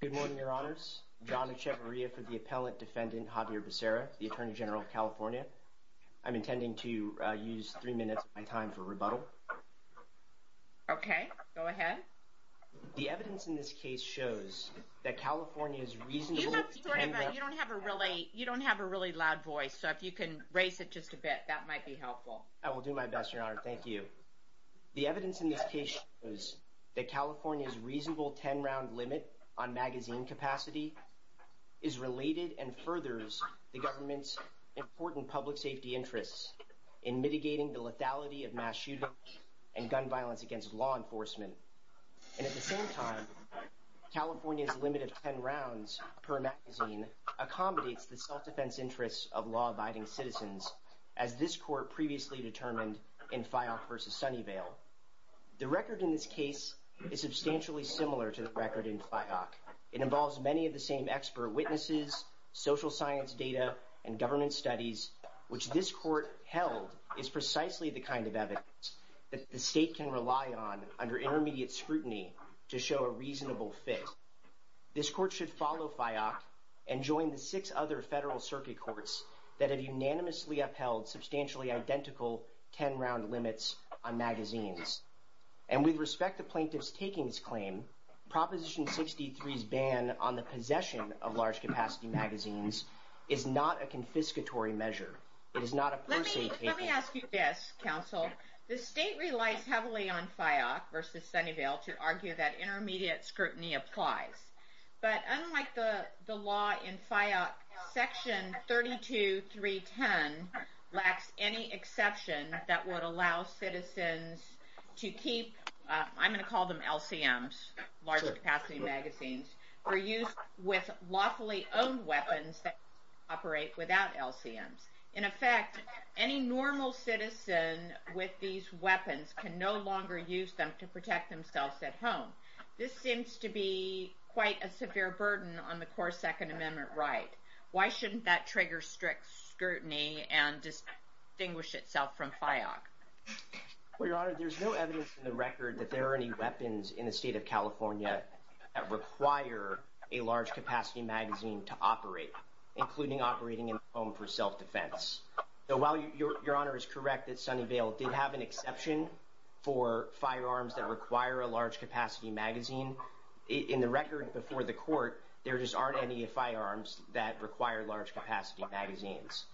Good morning, Your Honors. John Echevarria for the Appellant Defendant Xavier Becerra, the Attorney General of California. I'm intending to use three minutes of my time for rebuttal. Okay. Go ahead. The evidence in this case shows that California's reasonable ten-round- You don't have a really loud voice, so if you can raise it just a bit, that might be helpful. I will do my best, Your Honor. Thank you. The evidence in this case shows that California's reasonable ten-round limit on magazine capacity is related and furthers the government's important public safety interests in mitigating the lethality of mass shootings and gun violence against law enforcement. And at the same time, California's limit of ten rounds per magazine accommodates the self-defense interests of law-abiding citizens, as this court previously determined in FIOC v. Sunnyvale. The record in this case is substantially similar to the record in FIOC. It involves many of the same expert witnesses, social science data, and government studies, which this court held is precisely the kind of evidence that the state can rely on under intermediate scrutiny to show a reasonable fit. This court should follow FIOC and join the six other federal circuit courts that have unanimously upheld substantially identical ten-round limits on magazines. And with respect to plaintiff's takings claim, Proposition 63's ban on the possession of large-capacity magazines is not a confiscatory measure. It is not a per se taking. Let me ask you this, counsel. The state relies heavily on FIOC v. Sunnyvale to argue that intermediate scrutiny applies. But unlike the law in FIOC, Section 32.310 lacks any exception that would allow citizens to keep, I'm going to call them LCMs, large-capacity magazines, for use with lawfully owned weapons that operate without LCMs. In effect, any normal citizen with these weapons can no longer use them to protect themselves at home. This seems to be quite a severe burden on the core Second Amendment right. Why shouldn't that trigger strict scrutiny and distinguish itself from FIOC? Well, Your Honor, there's no evidence in the record that there are any weapons in the state of California that require a large-capacity magazine to operate, including operating in a home for self-defense. So while Your Honor is correct that Sunnyvale did have an exception for firearms that require a large-capacity magazine, in the record before the court, there just aren't any firearms that require large-capacity magazines.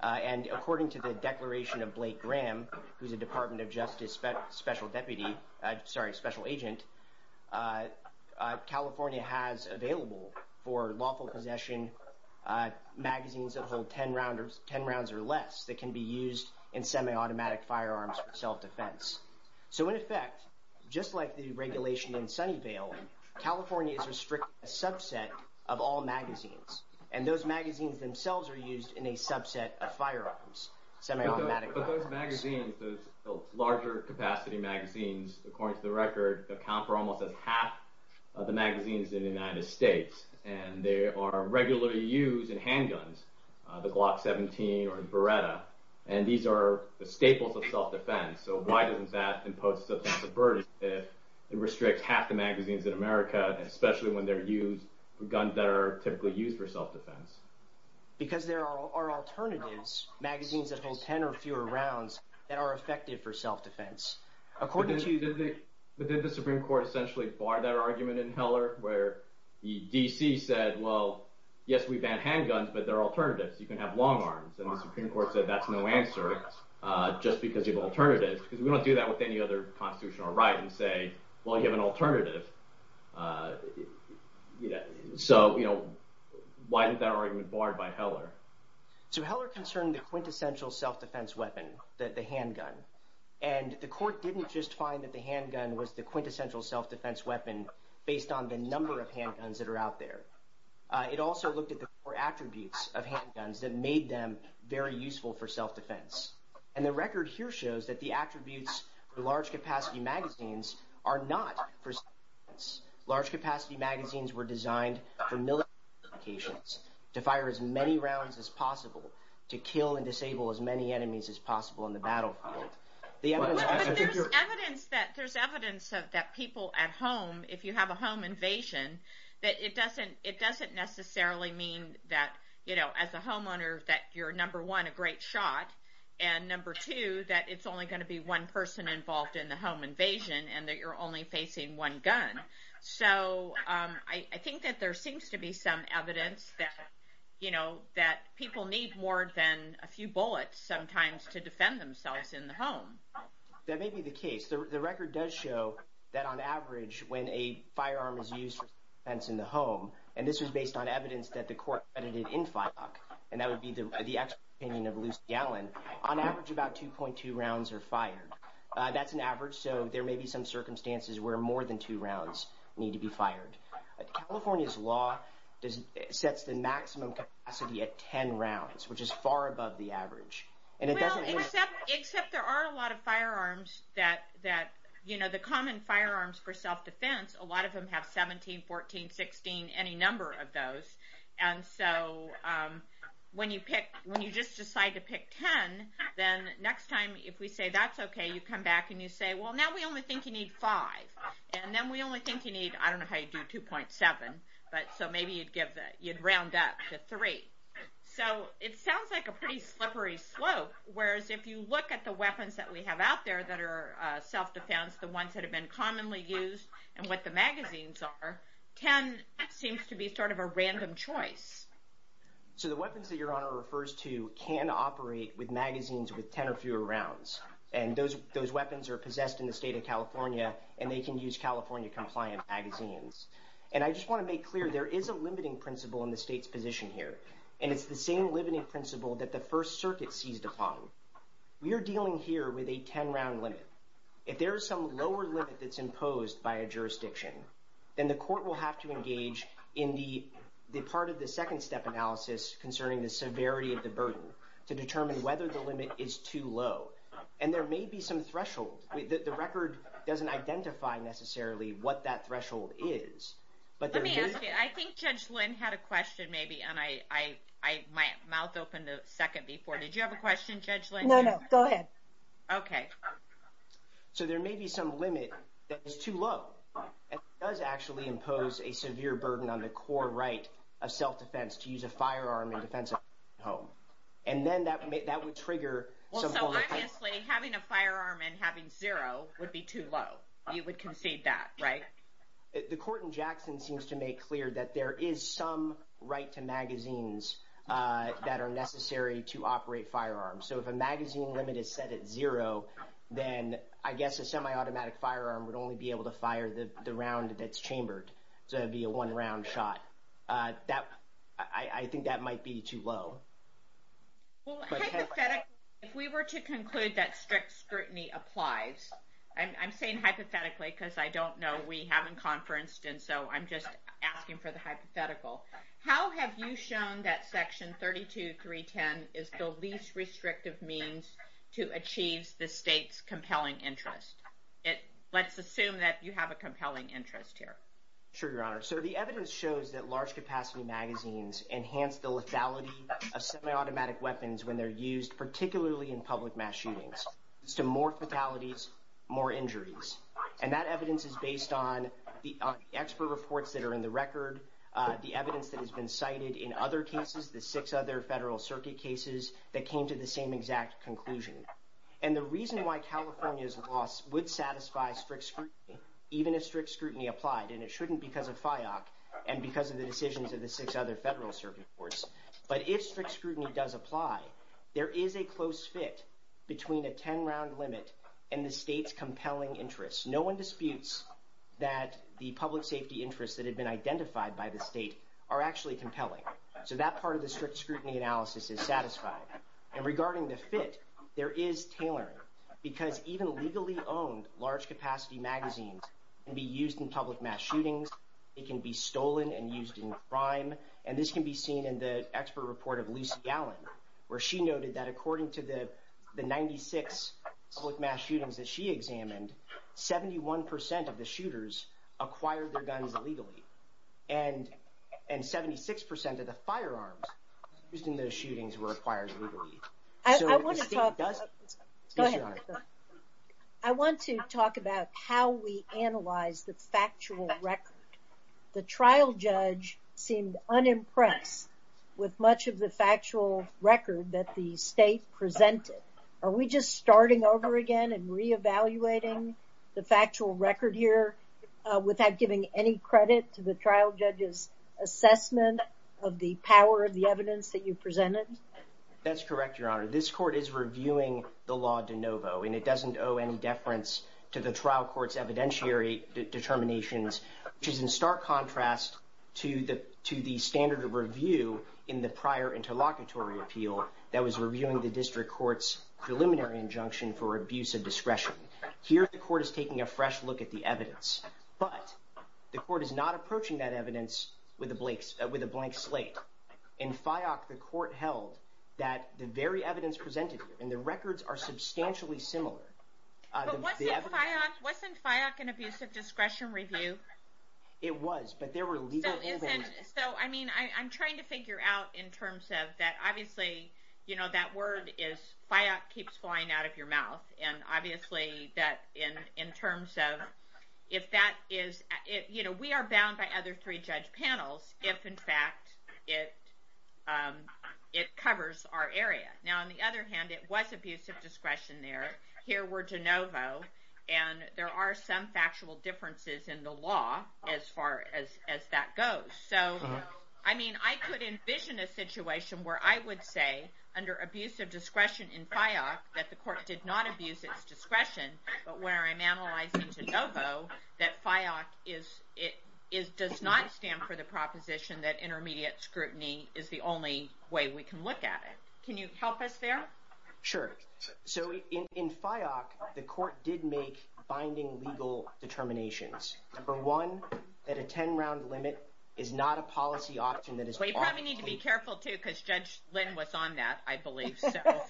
And according to the declaration of Blake Graham, who's a Department of Justice special agent, California has available for lawful possession magazines that hold 10 rounds or less that can be used in semi-automatic firearms for self-defense. So in effect, just like the regulation in Sunnyvale, California is restricting a subset of all magazines. And those magazines themselves are used in a subset of firearms, semi-automatic firearms. But those magazines, those larger-capacity magazines, according to the record, account for almost half of the magazines in the United States. And they are regularly used in handguns, the Glock 17 or the Beretta. And these are the staples of self-defense. So why doesn't that impose substantive burden if it restricts half the magazines in America, especially when they're used for guns that are typically used for self-defense? Because there are alternatives, magazines that hold 10 or fewer rounds, that are effective for self-defense. But did the Supreme Court essentially bar that argument in Heller where the D.C. said, well, yes, we ban handguns, but there are alternatives. You can have long arms. And the Supreme Court said that's no answer just because you have alternatives because we don't do that with any other constitutional right and say, well, you have an alternative. So why is that argument barred by Heller? So Heller concerned the quintessential self-defense weapon, the handgun. And the court didn't just find that the handgun was the quintessential self-defense weapon based on the number of handguns that are out there. It also looked at the core attributes of handguns that made them very useful for self-defense. And the record here shows that the attributes for large-capacity magazines are not for self-defense. Large-capacity magazines were designed for military applications, to fire as many rounds as possible, to kill and disable as many enemies as possible in the battlefield. But there's evidence that people at home, if you have a home invasion, that it doesn't necessarily mean that as a homeowner that you're, number one, a great shot, and number two, that it's only going to be one person involved in the home invasion and that you're only facing one gun. So I think that there seems to be some evidence that people need more than a few bullets sometimes to defend themselves in the home. That may be the case. The record does show that on average, when a firearm is used for self-defense in the home, and this was based on evidence that the court credited in FIOC, and that would be the expert opinion of Lucy Allen, on average about 2.2 rounds are fired. That's an average, so there may be some circumstances where more than two rounds need to be fired. California's law sets the maximum capacity at 10 rounds, which is far above the average. Well, except there are a lot of firearms that, you know, the common firearms for self-defense, a lot of them have 17, 14, 16, any number of those. And so when you just decide to pick 10, then next time if we say that's okay, you come back and you say, well, now we only think you need five. And then we only think you need, I don't know how you do 2.7, but so maybe you'd round up to three. So it sounds like a pretty slippery slope, whereas if you look at the weapons that we have out there that are self-defense, the ones that have been commonly used and what the magazines are, 10 seems to be sort of a random choice. So the weapons that Your Honor refers to can operate with magazines with 10 or fewer rounds. And those weapons are possessed in the state of California, and they can use California-compliant magazines. And I just want to make clear there is a limiting principle in the state's position here, and it's the same limiting principle that the First Circuit seized upon. We are dealing here with a 10-round limit. If there is some lower limit that's imposed by a jurisdiction, then the court will have to engage in the part of the second-step analysis concerning the severity of the burden to determine whether the limit is too low. And there may be some threshold. The record doesn't identify necessarily what that threshold is. Let me ask you. I think Judge Lynn had a question maybe, and my mouth opened a second before. Did you have a question, Judge Lynn? No, no. Go ahead. Okay. So there may be some limit that is too low and does actually impose a severe burden on the core right of self-defense And then that would trigger some form of... Obviously, having a firearm and having zero would be too low. You would concede that, right? The court in Jackson seems to make clear that there is some right to magazines that are necessary to operate firearms. So if a magazine limit is set at zero, then I guess a semi-automatic firearm would only be able to fire the round that's chambered. So that would be a one-round shot. I think that might be too low. Well, hypothetically, if we were to conclude that strict scrutiny applies, I'm saying hypothetically because I don't know. We haven't conferenced, and so I'm just asking for the hypothetical. How have you shown that Section 32310 is the least restrictive means to achieve the state's compelling interest? Let's assume that you have a compelling interest here. Sure, Your Honor. So the evidence shows that large-capacity magazines enhance the lethality of semi-automatic weapons when they're used, particularly in public mass shootings, to more fatalities, more injuries. And that evidence is based on expert reports that are in the record, the evidence that has been cited in other cases, the six other federal circuit cases that came to the same exact conclusion. And the reason why California's loss would satisfy strict scrutiny, and because of the decisions of the six other federal circuit courts. But if strict scrutiny does apply, there is a close fit between a 10-round limit and the state's compelling interest. No one disputes that the public safety interests that have been identified by the state are actually compelling. So that part of the strict scrutiny analysis is satisfied. And regarding the fit, there is tailoring, because even legally owned large-capacity magazines can be used in public mass shootings. It can be stolen and used in crime. And this can be seen in the expert report of Lucy Allen, where she noted that according to the 96 public mass shootings that she examined, 71% of the shooters acquired their guns illegally. And 76% of the firearms used in those shootings were acquired illegally. I want to talk about... Go ahead. The trial judge seemed unimpressed with much of the factual record that the state presented. Are we just starting over again and reevaluating the factual record here without giving any credit to the trial judge's assessment of the power of the evidence that you presented? That's correct, Your Honor. This court is reviewing the law de novo, and it doesn't owe any deference to the trial court's evidentiary determinations which is in stark contrast to the standard of review in the prior interlocutory appeal that was reviewing the district court's preliminary injunction for abuse of discretion. Here, the court is taking a fresh look at the evidence, but the court is not approaching that evidence with a blank slate. In FIOC, the court held that the very evidence presented here, and the records are substantially similar... Wasn't FIOC an abuse of discretion review? It was, but there were legal... So, I mean, I'm trying to figure out in terms of that, obviously, you know, that word is FIOC keeps flying out of your mouth, and obviously that in terms of if that is... You know, we are bound by other three judge panels if, in fact, it covers our area. Now, on the other hand, it was abuse of discretion there. Here we're de novo, and there are some factual differences in the law as far as that goes. So, I mean, I could envision a situation where I would say under abuse of discretion in FIOC that the court did not abuse its discretion, but where I'm analyzing de novo, that FIOC does not stand for the proposition that intermediate scrutiny is the only way we can look at it. Can you help us there? Sure. So, in FIOC, the court did make binding legal determinations. Number one, that a 10-round limit is not a policy option that is... Well, you probably need to be careful, too, because Judge Lynn was on that, I believe, so... I was.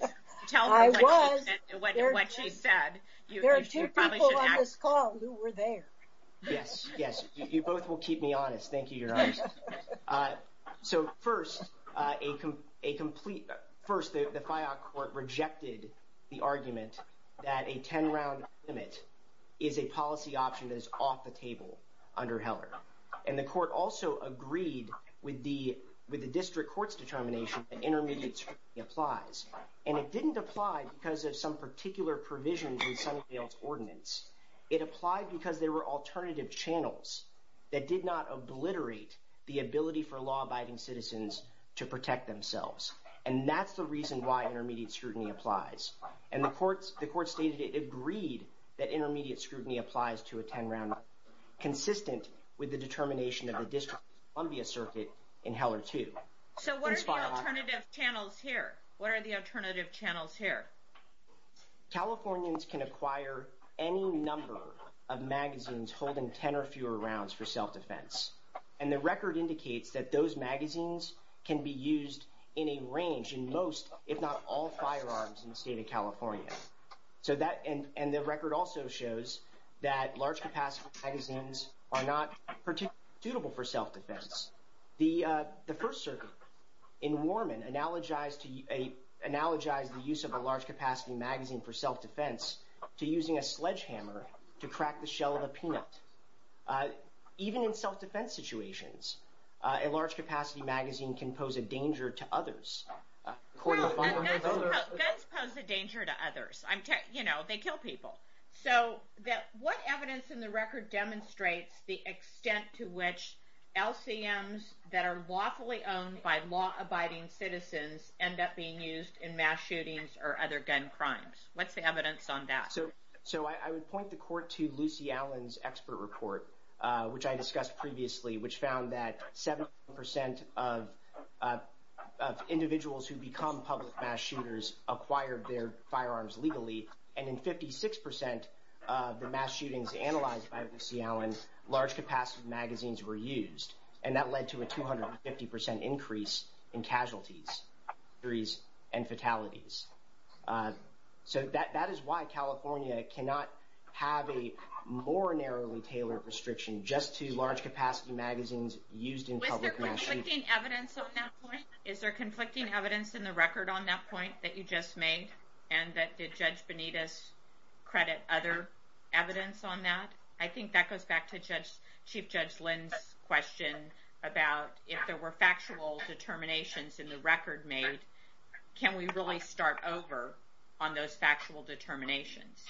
Tell me what she said. There are two people on this call who were there. Yes, yes. You both will keep me honest. Thank you, Your Honor. So, first, a complete... First, the FIOC court rejected the argument that a 10-round limit is a policy option that is off the table under Heller, and the court also agreed with the district court's determination that intermediate scrutiny applies, and it didn't apply because of some particular provisions in Sunnyvale's ordinance. It applied because there were alternative channels that did not obliterate the ability for law-abiding citizens to protect themselves, and that's the reason why intermediate scrutiny applies. And the court stated it agreed that intermediate scrutiny applies to a 10-round limit consistent with the determination of the District of Columbia Circuit in Heller, too. So, what are the alternative channels here? Californians can acquire any number of magazines holding 10 or fewer rounds for self-defense, and the record indicates that those magazines can be used in a range in most, if not all, firearms in the state of California. And the record also shows that large-capacity magazines are not particularly suitable for self-defense. The First Circuit in Warman analogized the use of a large-capacity magazine for self-defense to using a sledgehammer to crack the shell of a peanut. Even in self-defense situations, a large-capacity magazine can pose a danger to others. Well, guns pose a danger to others. You know, they kill people. So, what evidence in the record demonstrates the extent to which LCMs that are lawfully owned by law-abiding citizens end up being used in mass shootings or other gun crimes? What's the evidence on that? So, I would point the court to Lucy Allen's expert report, which I discussed previously, which found that 70% of individuals who become public mass shooters acquired their firearms legally, and in 56% of the mass shootings analyzed by Lucy Allen, large-capacity magazines were used. So, that is why California cannot have a more narrowly tailored restriction just to large-capacity magazines used in public mass shootings. Was there conflicting evidence on that point? Is there conflicting evidence in the record on that point that you just made, and did Judge Benitez credit other evidence on that? I think that goes back to Chief Judge Lynn's question about if there were factual determinations in the record made, can we really start over on those factual determinations?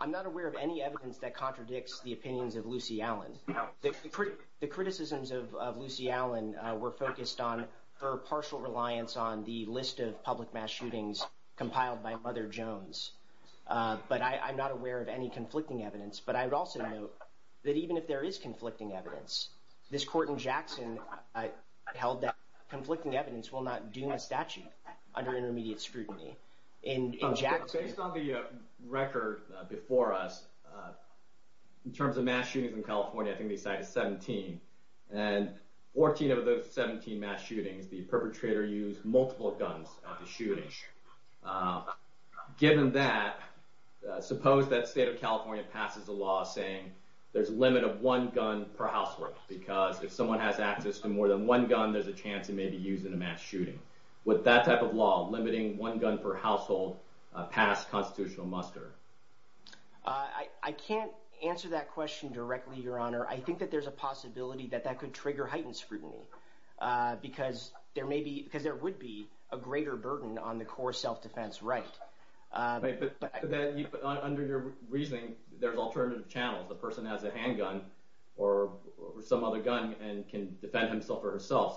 I'm not aware of any evidence that contradicts the opinions of Lucy Allen. The criticisms of Lucy Allen were focused on her partial reliance on the list of public mass shootings compiled by Mother Jones. But I'm not aware of any conflicting evidence. But I would also note that even if there is conflicting evidence, this court in Jackson held that conflicting evidence while not doing a statute under intermediate scrutiny in Jackson. Based on the record before us, in terms of mass shootings in California, I think they cited 17. And 14 of those 17 mass shootings, the perpetrator used multiple guns at the shooting. Given that, suppose that state of California passes a law saying there's a limit of one gun per housework because if someone has access to more than one gun, there's a chance it may be used in a mass shooting. Would that type of law limiting one gun per household pass constitutional muster? I can't answer that question directly, Your Honor. I think that there's a possibility that that could trigger heightened scrutiny because there would be a greater burden on the core self-defense right. But under your reasoning, there's alternative channels. The person has a handgun or some other gun and can defend himself or herself.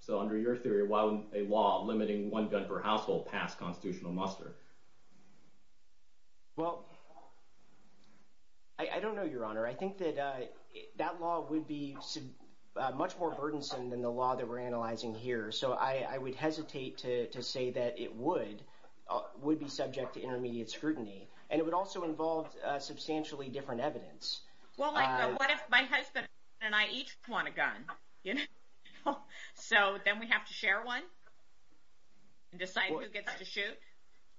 So under your theory, why would a law limiting one gun per household pass constitutional muster? Well, I don't know, Your Honor. I think that that law would be much more burdensome than the law that we're analyzing here. So I would hesitate to say that it would be subject to intermediate scrutiny. And it would also involve substantially different evidence. Well, what if my husband and I each want a gun? So then we have to share one and decide who gets to shoot?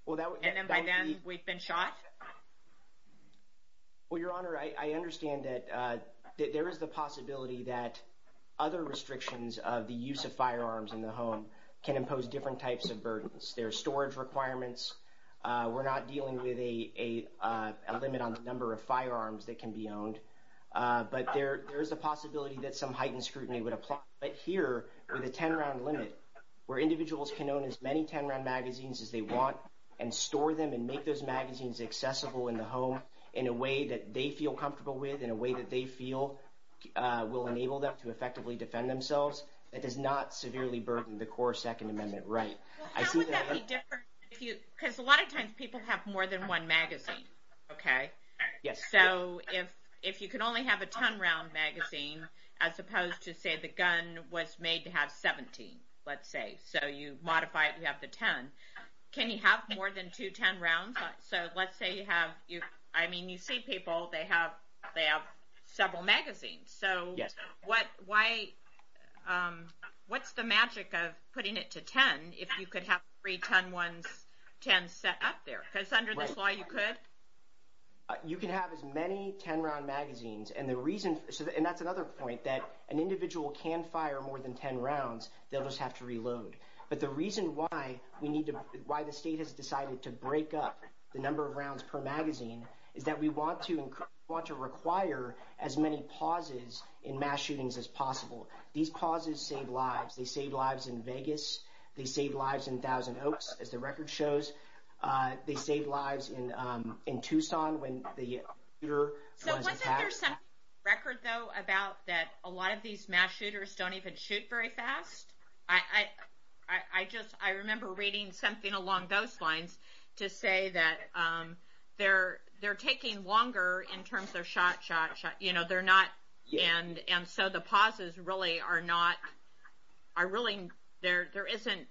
And then by then, we've been shot? Well, Your Honor, I understand that there is the possibility that other restrictions of the use of firearms in the home can impose different types of burdens. There are storage requirements. We're not dealing with a limit on the number of firearms that can be owned. But there is a possibility that some heightened scrutiny would apply. But here, with a 10-round limit, where individuals can own as many 10-round magazines as they want and store them and make those magazines accessible in the home in a way that they feel comfortable with, in a way that they feel will enable them to effectively defend themselves, that does not severely burden the core Second Amendment right. Well, how would that be different? Because a lot of times, people have more than one magazine, okay? So if you can only have a 10-round magazine, as opposed to, say, the gun was made to have 17, let's say. So you modify it and you have the 10. Can you have more than two 10-rounds? So let's say you have, I mean, you see people, they have several magazines. So what's the magic of putting it to 10 if you could have three 10s set up there? Because under this law, you could? You can have as many 10-round magazines. And that's another point, that an individual can fire more than 10 rounds. They'll just have to reload. But the reason why the state has decided to break up the number of rounds per magazine is that we want to require as many pauses in mass shootings as possible. These pauses save lives. They save lives in Vegas. They save lives in Thousand Oaks, as the record shows. They save lives in Tucson when the shooter was attacked. So wasn't there some record, though, about that a lot of these mass shooters don't even shoot very fast? I just, I remember reading something along those lines to say that they're taking longer in terms of shot, shot, shot. You know, they're not, and so the pauses really are not, are really, there isn't,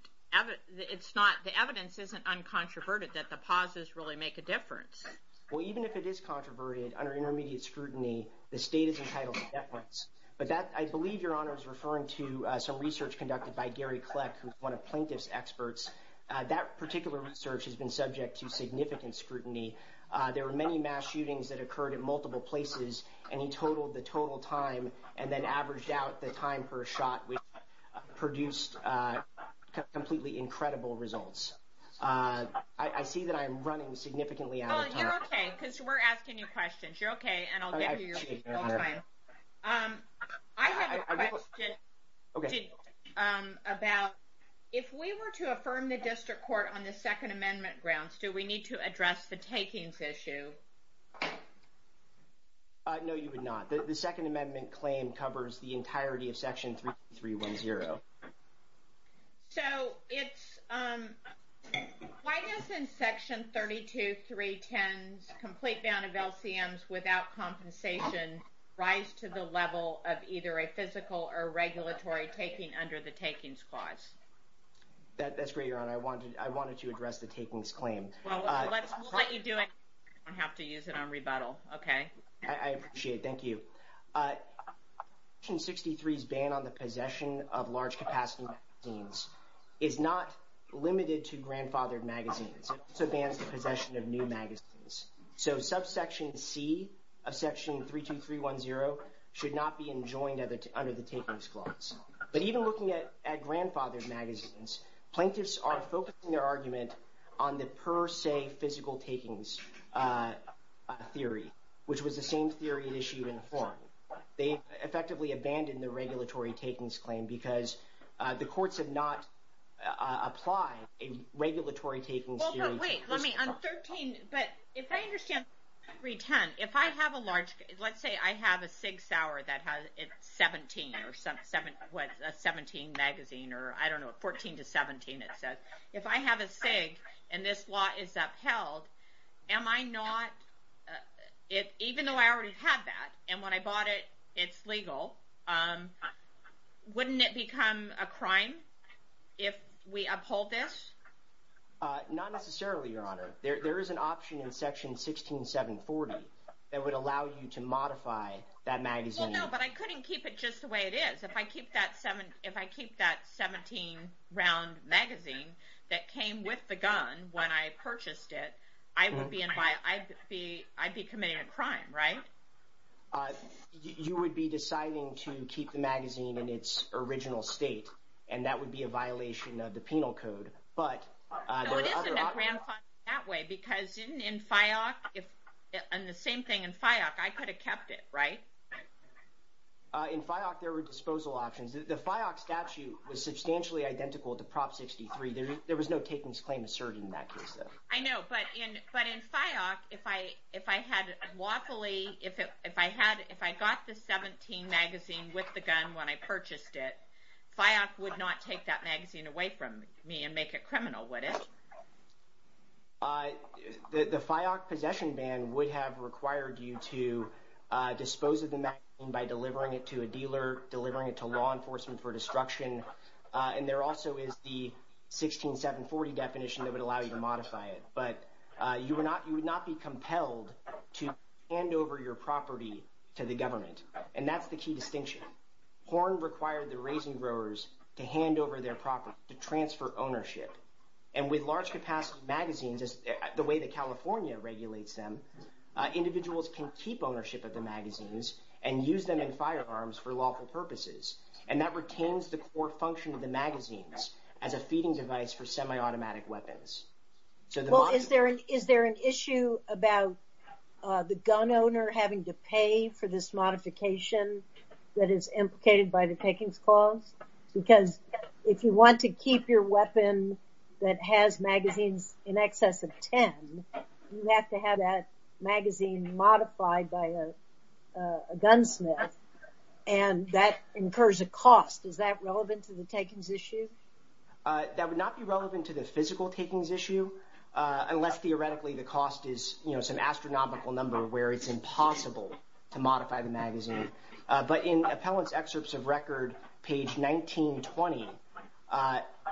it's not, the evidence isn't uncontroverted that the pauses really make a difference. Well, even if it is controverted under intermediate scrutiny, the state is entitled to net points. But that, I believe Your Honor is referring to some research conducted by Gary Kleck, who's one of plaintiff's experts. That particular research has been subject to significant scrutiny. There were many mass shootings that occurred in multiple places, and he totaled the total time and then averaged out the time per shot, which produced completely incredible results. I see that I'm running significantly out of time. Well, you're okay, because we're asking you questions. You're okay, and I'll give you your time. I have a question about, if we were to affirm the district court on the Second Amendment grounds, do we need to address the takings issue? No, you would not. The Second Amendment claim covers the entirety of Section 3310. So, it's, why doesn't Section 32310's complete ban of LCMs without compensation rise to the level of either a physical or regulatory taking under the takings clause? That's great, Your Honor. I wanted to address the takings claim. Well, we'll let you do it. You don't have to use it on rebuttal, okay? I appreciate it. Thank you. Section 63's ban on the possession of large capacity magazines is not limited to grandfathered magazines. It also bans the possession of new magazines. So, subsection C of Section 32310 should not be enjoined under the takings clause. But even looking at grandfathered magazines, plaintiffs are focusing their argument on the per se physical takings theory, which was the same theory issued in foreign. They effectively abandoned the regulatory takings claim because the courts have not applied a regulatory takings theory. Well, but wait, let me, on 13, but if I understand 32310, if I have a large, let's say I have a Sig Sauer that has, it's 17, or what, a 17 magazine, or I don't know, 14 to 17 it says. If I have a Sig and this law is upheld, am I not, even though I already have that, and when I bought it, it's legal, wouldn't it become a crime if we uphold this? Not necessarily, Your Honor. There is an option in Section 16740 that would allow you to modify that magazine. Well, no, but I couldn't keep it just the way it is. If I keep that 17 round magazine that came with the gun when I purchased it, I'd be committing a crime, right? You would be deciding to keep the magazine in its original state, and that would be a violation of the penal code. So it isn't a grand fine that way, because in FIOC, and the same thing in FIOC, I could have kept it, right? In FIOC, there were disposal options. The FIOC statute was substantially identical to Prop 63. There was no takings claim asserted in that case, though. I know, but in FIOC, if I had lawfully, if I got the 17 magazine with the gun when I purchased it, FIOC would not take that magazine away from me and make it criminal, would it? The FIOC possession ban would have required you to dispose of the magazine by delivering it to a dealer, delivering it to law enforcement for destruction, and there also is the 16740 definition that would allow you to modify it. But you would not be compelled to hand over your property to the government, and that's the key distinction. Horn required the raisin growers to hand over their property to transfer ownership, and with large capacity magazines, the way that California regulates them, individuals can keep ownership of the magazines and use them in firearms for lawful purposes, and that retains the core function of the magazines as a feeding device for semi-automatic weapons. Well, is there an issue about the gun owner having to pay for this modification that is implicated by the takings clause? Because if you want to keep your weapon that has magazines in excess of 10, you have to have that magazine modified by a gunsmith, and that incurs a cost. Is that relevant to the takings issue? That would not be relevant to the physical takings issue unless theoretically the cost is, you know, some astronomical number where it's impossible to modify the magazine. But in Appellant's excerpts of record, page 1920,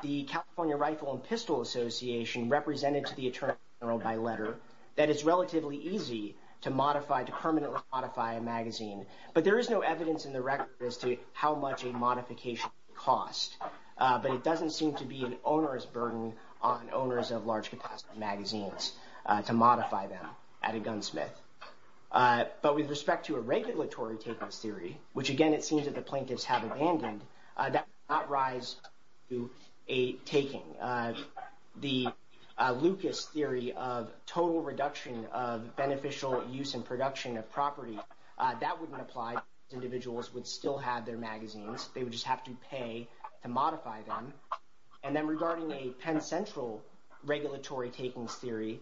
the California Rifle and Pistol Association represented to the attorney general by letter that it's relatively easy to modify, to permanently modify a magazine. But there is no evidence in the record as to how much a modification would cost, but it doesn't seem to be an owner's burden on owners of large capacity magazines to modify them. At a gunsmith. But with respect to a regulatory takings theory, which again, it seems that the plaintiffs have abandoned, that does not rise to a taking. The Lucas theory of total reduction of beneficial use and production of property, that wouldn't apply. Individuals would still have their magazines. They would just have to pay to modify them. And then regarding a Penn Central regulatory takings theory,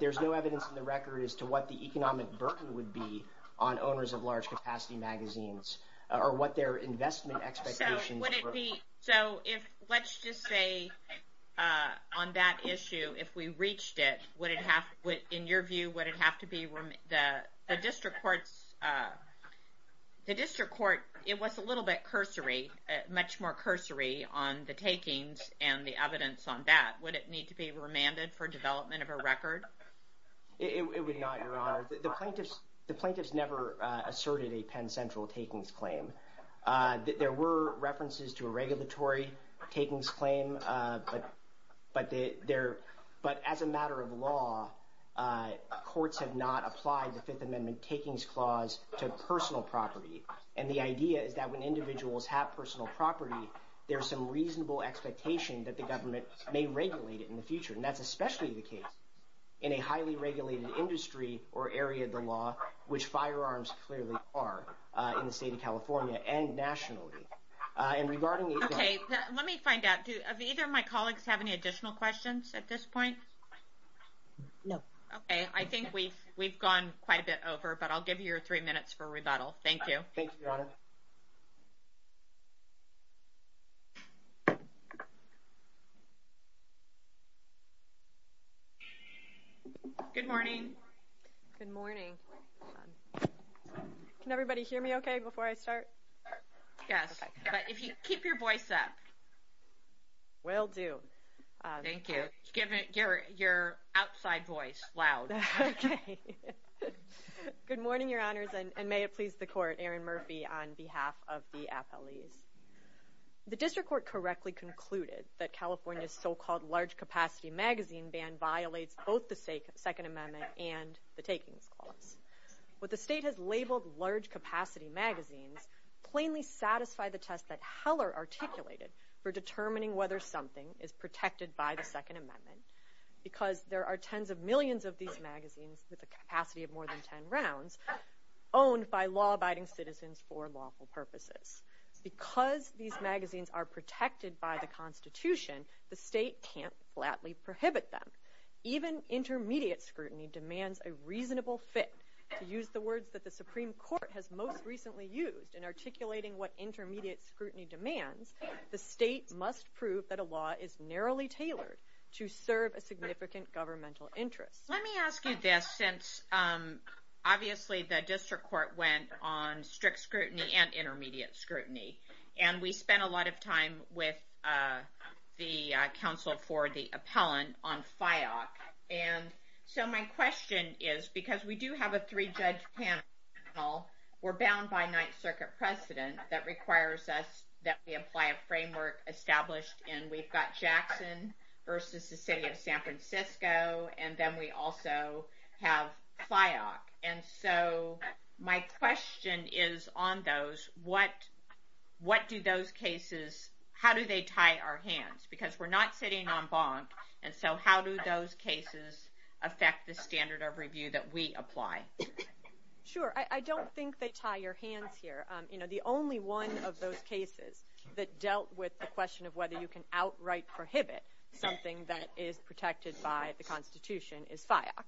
there's no evidence in the record as to what the economic burden would be on owners of large capacity magazines, or what their investment expectations were. So would it be, so if, let's just say, on that issue, if we reached it, would it have, in your view, would it have to be, the district court's, the district court, it was a little bit cursory, much more cursory on the takings and the evidence on that. Would it need to be remanded for development of a record? It would not, Your Honor. The plaintiffs never asserted a Penn Central takings claim. There were references to a regulatory takings claim, but as a matter of law, courts have not applied the Fifth Amendment takings clause to personal property. And the idea is that when individuals have personal property, there's some reasonable expectation that the government may regulate it in the future, and that's especially the case in a highly regulated industry or area of the law, which firearms clearly are, in the state of California and nationally. And regarding... Okay, let me find out, do either of my colleagues have any additional questions at this point? No. Okay, I think we've gone quite a bit over, Thank you. Thank you, Your Honor. Good morning. Good morning. Can everybody hear me okay before I start? Yes, but keep your voice up. Will do. Thank you. Give your outside voice, loud. Okay. Good morning, Your Honors, and may it please the court, Erin Murphy, on behalf of the appellees. The district court correctly concluded that California's so-called large-capacity magazine ban violates both the Second Amendment and the takings clause. What the state has labeled large-capacity magazines plainly satisfy the test that Heller articulated for determining whether something is protected by the Second Amendment, because there are tens of millions of these magazines with a capacity of more than 10 rounds owned by law-abiding citizens for lawful purposes. Because these magazines are protected by the Constitution, the state can't flatly prohibit them. Even intermediate scrutiny demands a reasonable fit. To use the words that the Supreme Court has most recently used in articulating what intermediate scrutiny demands, the state must prove that a law is narrowly tailored to serve a significant governmental interest. Let me ask you this, since, obviously, the district court went on strict scrutiny and intermediate scrutiny, and we spent a lot of time with the counsel for the appellant on FIOC. And so my question is, because we do have a three-judge panel, we're bound by Ninth Circuit precedent that requires us that we apply a framework established in, we've got Jackson versus the city of San Francisco, and then we also have FIOC. And so my question is on those. What do those cases, how do they tie our hands? Because we're not sitting on bonk, and so how do those cases affect the standard of review that we apply? Sure, I don't think they tie your hands here. The only one of those cases that dealt with the question of whether you can outright prohibit something that is protected by the Constitution is FIOC.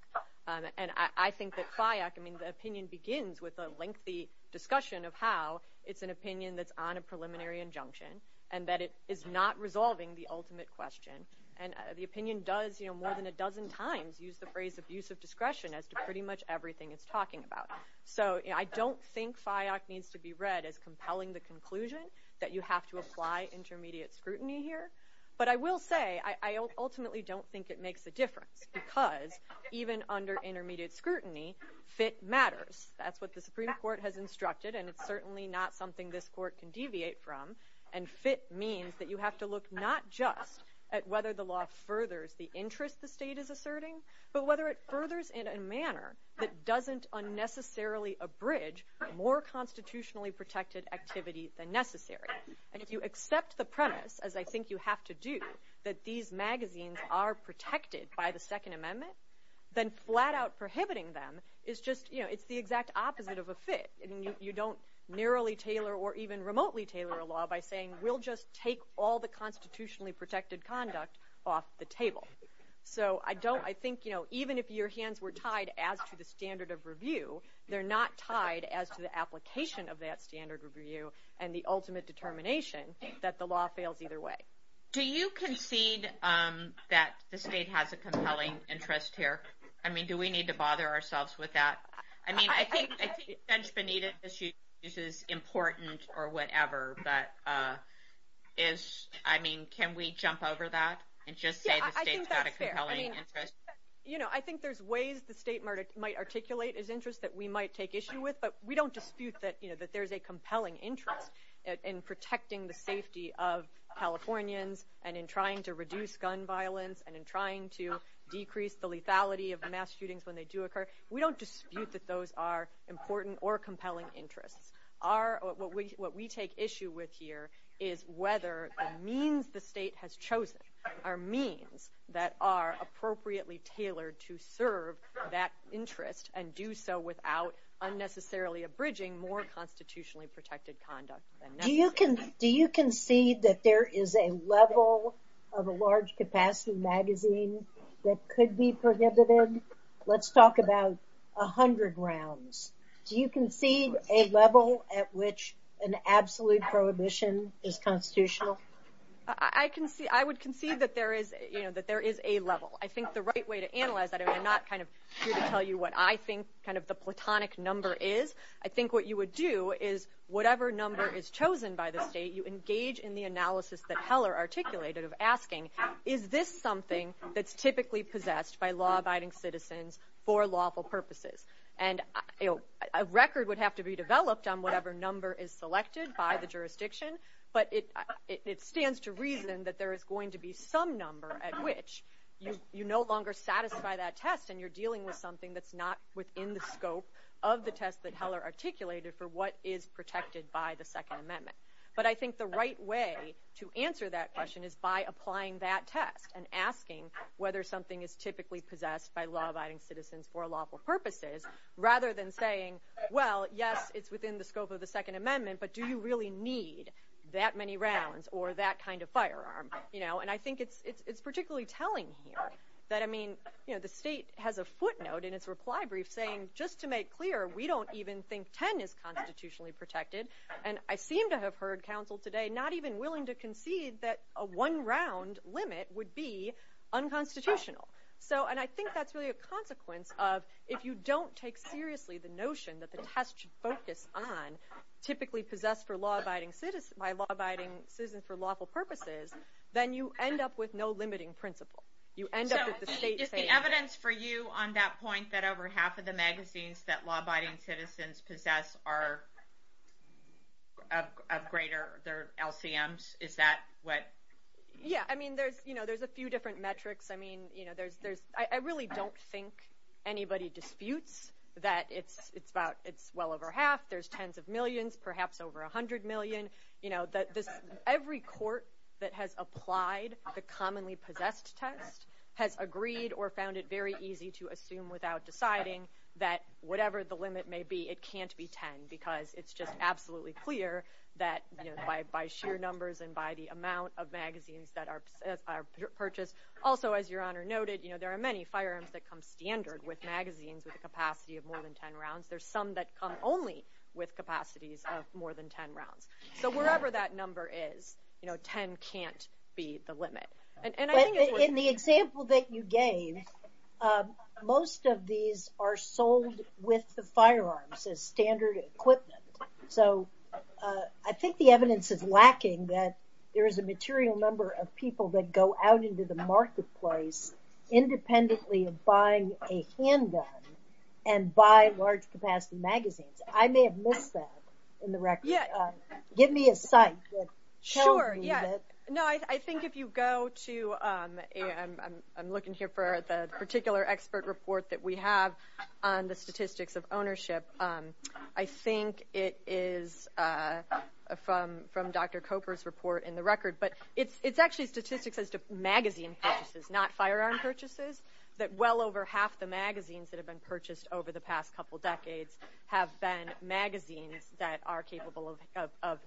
And I think that FIOC, I mean, the opinion begins with a lengthy discussion of how it's an opinion that's on a preliminary injunction and that it is not resolving the ultimate question. And the opinion does, you know, more than a dozen times use the phrase abuse of discretion as to pretty much everything it's talking about. So I don't think FIOC needs to be read as compelling the conclusion that you have to apply intermediate scrutiny here. But I will say, I ultimately don't think it makes a difference, because even under intermediate scrutiny, fit matters. That's what the Supreme Court has instructed, and it's certainly not something this court can deviate from. And fit means that you have to look not just at whether the law furthers the interest the state is asserting, but whether it furthers in a manner that doesn't unnecessarily abridge more constitutionally protected activity than necessary. And if you accept the premise, as I think you have to do, that these magazines are protected by the Second Amendment, then flat-out prohibiting them is just, you know, it's the exact opposite of a fit. You don't narrowly tailor or even remotely tailor a law by saying we'll just take all the constitutionally protected conduct off the table. So I think, you know, even if your hands were tied as to the standard of review, they're not tied as to the application of that standard review and the ultimate determination that the law fails either way. Do you concede that the state has a compelling interest here? I mean, do we need to bother ourselves with that? I mean, I think the bench beneath it is important or whatever, but is, I mean, can we jump over that and just say the state's got a compelling interest? Yeah, I think that's fair. You know, I think there's ways the state might articulate its interest that we might take issue with, but we don't dispute that, you know, that there's a compelling interest in protecting the safety of Californians and in trying to reduce gun violence and in trying to decrease the lethality of mass shootings when they do occur. We don't dispute that those are important or compelling interests. What we take issue with here is whether the means the state has chosen are means that are appropriately tailored to serve that interest and do so without unnecessarily abridging more constitutionally protected conduct than necessary. Do you concede that there is a level of a large-capacity magazine that could be prohibited? Let's talk about a hundred rounds. Do you concede a level at which an absolute prohibition is constitutional? I would concede that there is, you know, that there is a level. I think the right way to analyze that, I'm not kind of here to tell you what I think kind of the platonic number is. I think what you would do is whatever number is chosen by the state, you engage in the analysis that Heller articulated of asking, is this something that's typically possessed by law-abiding citizens for lawful purposes? And a record would have to be developed on whatever number is selected by the jurisdiction, but it stands to reason that there is going to be some number at which you no longer satisfy that test and you're dealing with something that's not within the scope of the test that Heller articulated for what is protected by the Second Amendment. But I think the right way to answer that question is by applying that test and asking whether something is typically possessed by law-abiding citizens for lawful purposes rather than saying, well, yes, it's within the scope of the Second Amendment, but do you really need that many rounds or that kind of firearm, you know? And I think it's particularly telling here that, I mean, you know, the state has a footnote in its reply brief saying just to make clear, we don't even think 10 is constitutionally protected, and I seem to have heard counsel today not even willing to concede that a one-round limit would be unconstitutional. So, and I think that's really a consequence of if you don't take seriously the notion that the test should focus on typically possessed by law-abiding citizens for lawful purposes, then you end up with no limiting principle. You end up with the state saying... So is the evidence for you on that point that over half of the magazines that law-abiding citizens possess are of greater LCMs? Is that what... Yeah, I mean, there's, you know, there's a few different metrics. I mean, you know, there's... I really don't think anybody disputes that it's well over half, there's tens of millions, perhaps over 100 million. You know, every court that has applied the commonly possessed test has agreed or found it very easy to assume without deciding that whatever the limit may be, it can't be 10 because it's just absolutely clear that, you know, by sheer numbers and by the amount of magazines that are purchased. Also, as Your Honor noted, you know, there are many firearms that come standard with magazines with a capacity of more than 10 rounds. There's some that come only with capacities of more than 10 rounds. So wherever that number is, you know, 10 can't be the limit. And I think it's worth... But in the example that you gave, most of these are sold with the firearms as standard equipment. So I think the evidence is lacking that there is a material number of people that go out into the marketplace independently of buying a handgun and buy large capacity magazines. I may have missed that in the record. Give me a site that tells me that. Sure, yeah. No, I think if you go to... I'm looking here for the particular expert report that we have on the statistics of ownership. I think it is from Dr. Coper's report in the record. But it's actually statistics as to magazine purchases, not firearm purchases, that well over half the magazines that have been purchased over the past couple decades have been magazines that are capable of...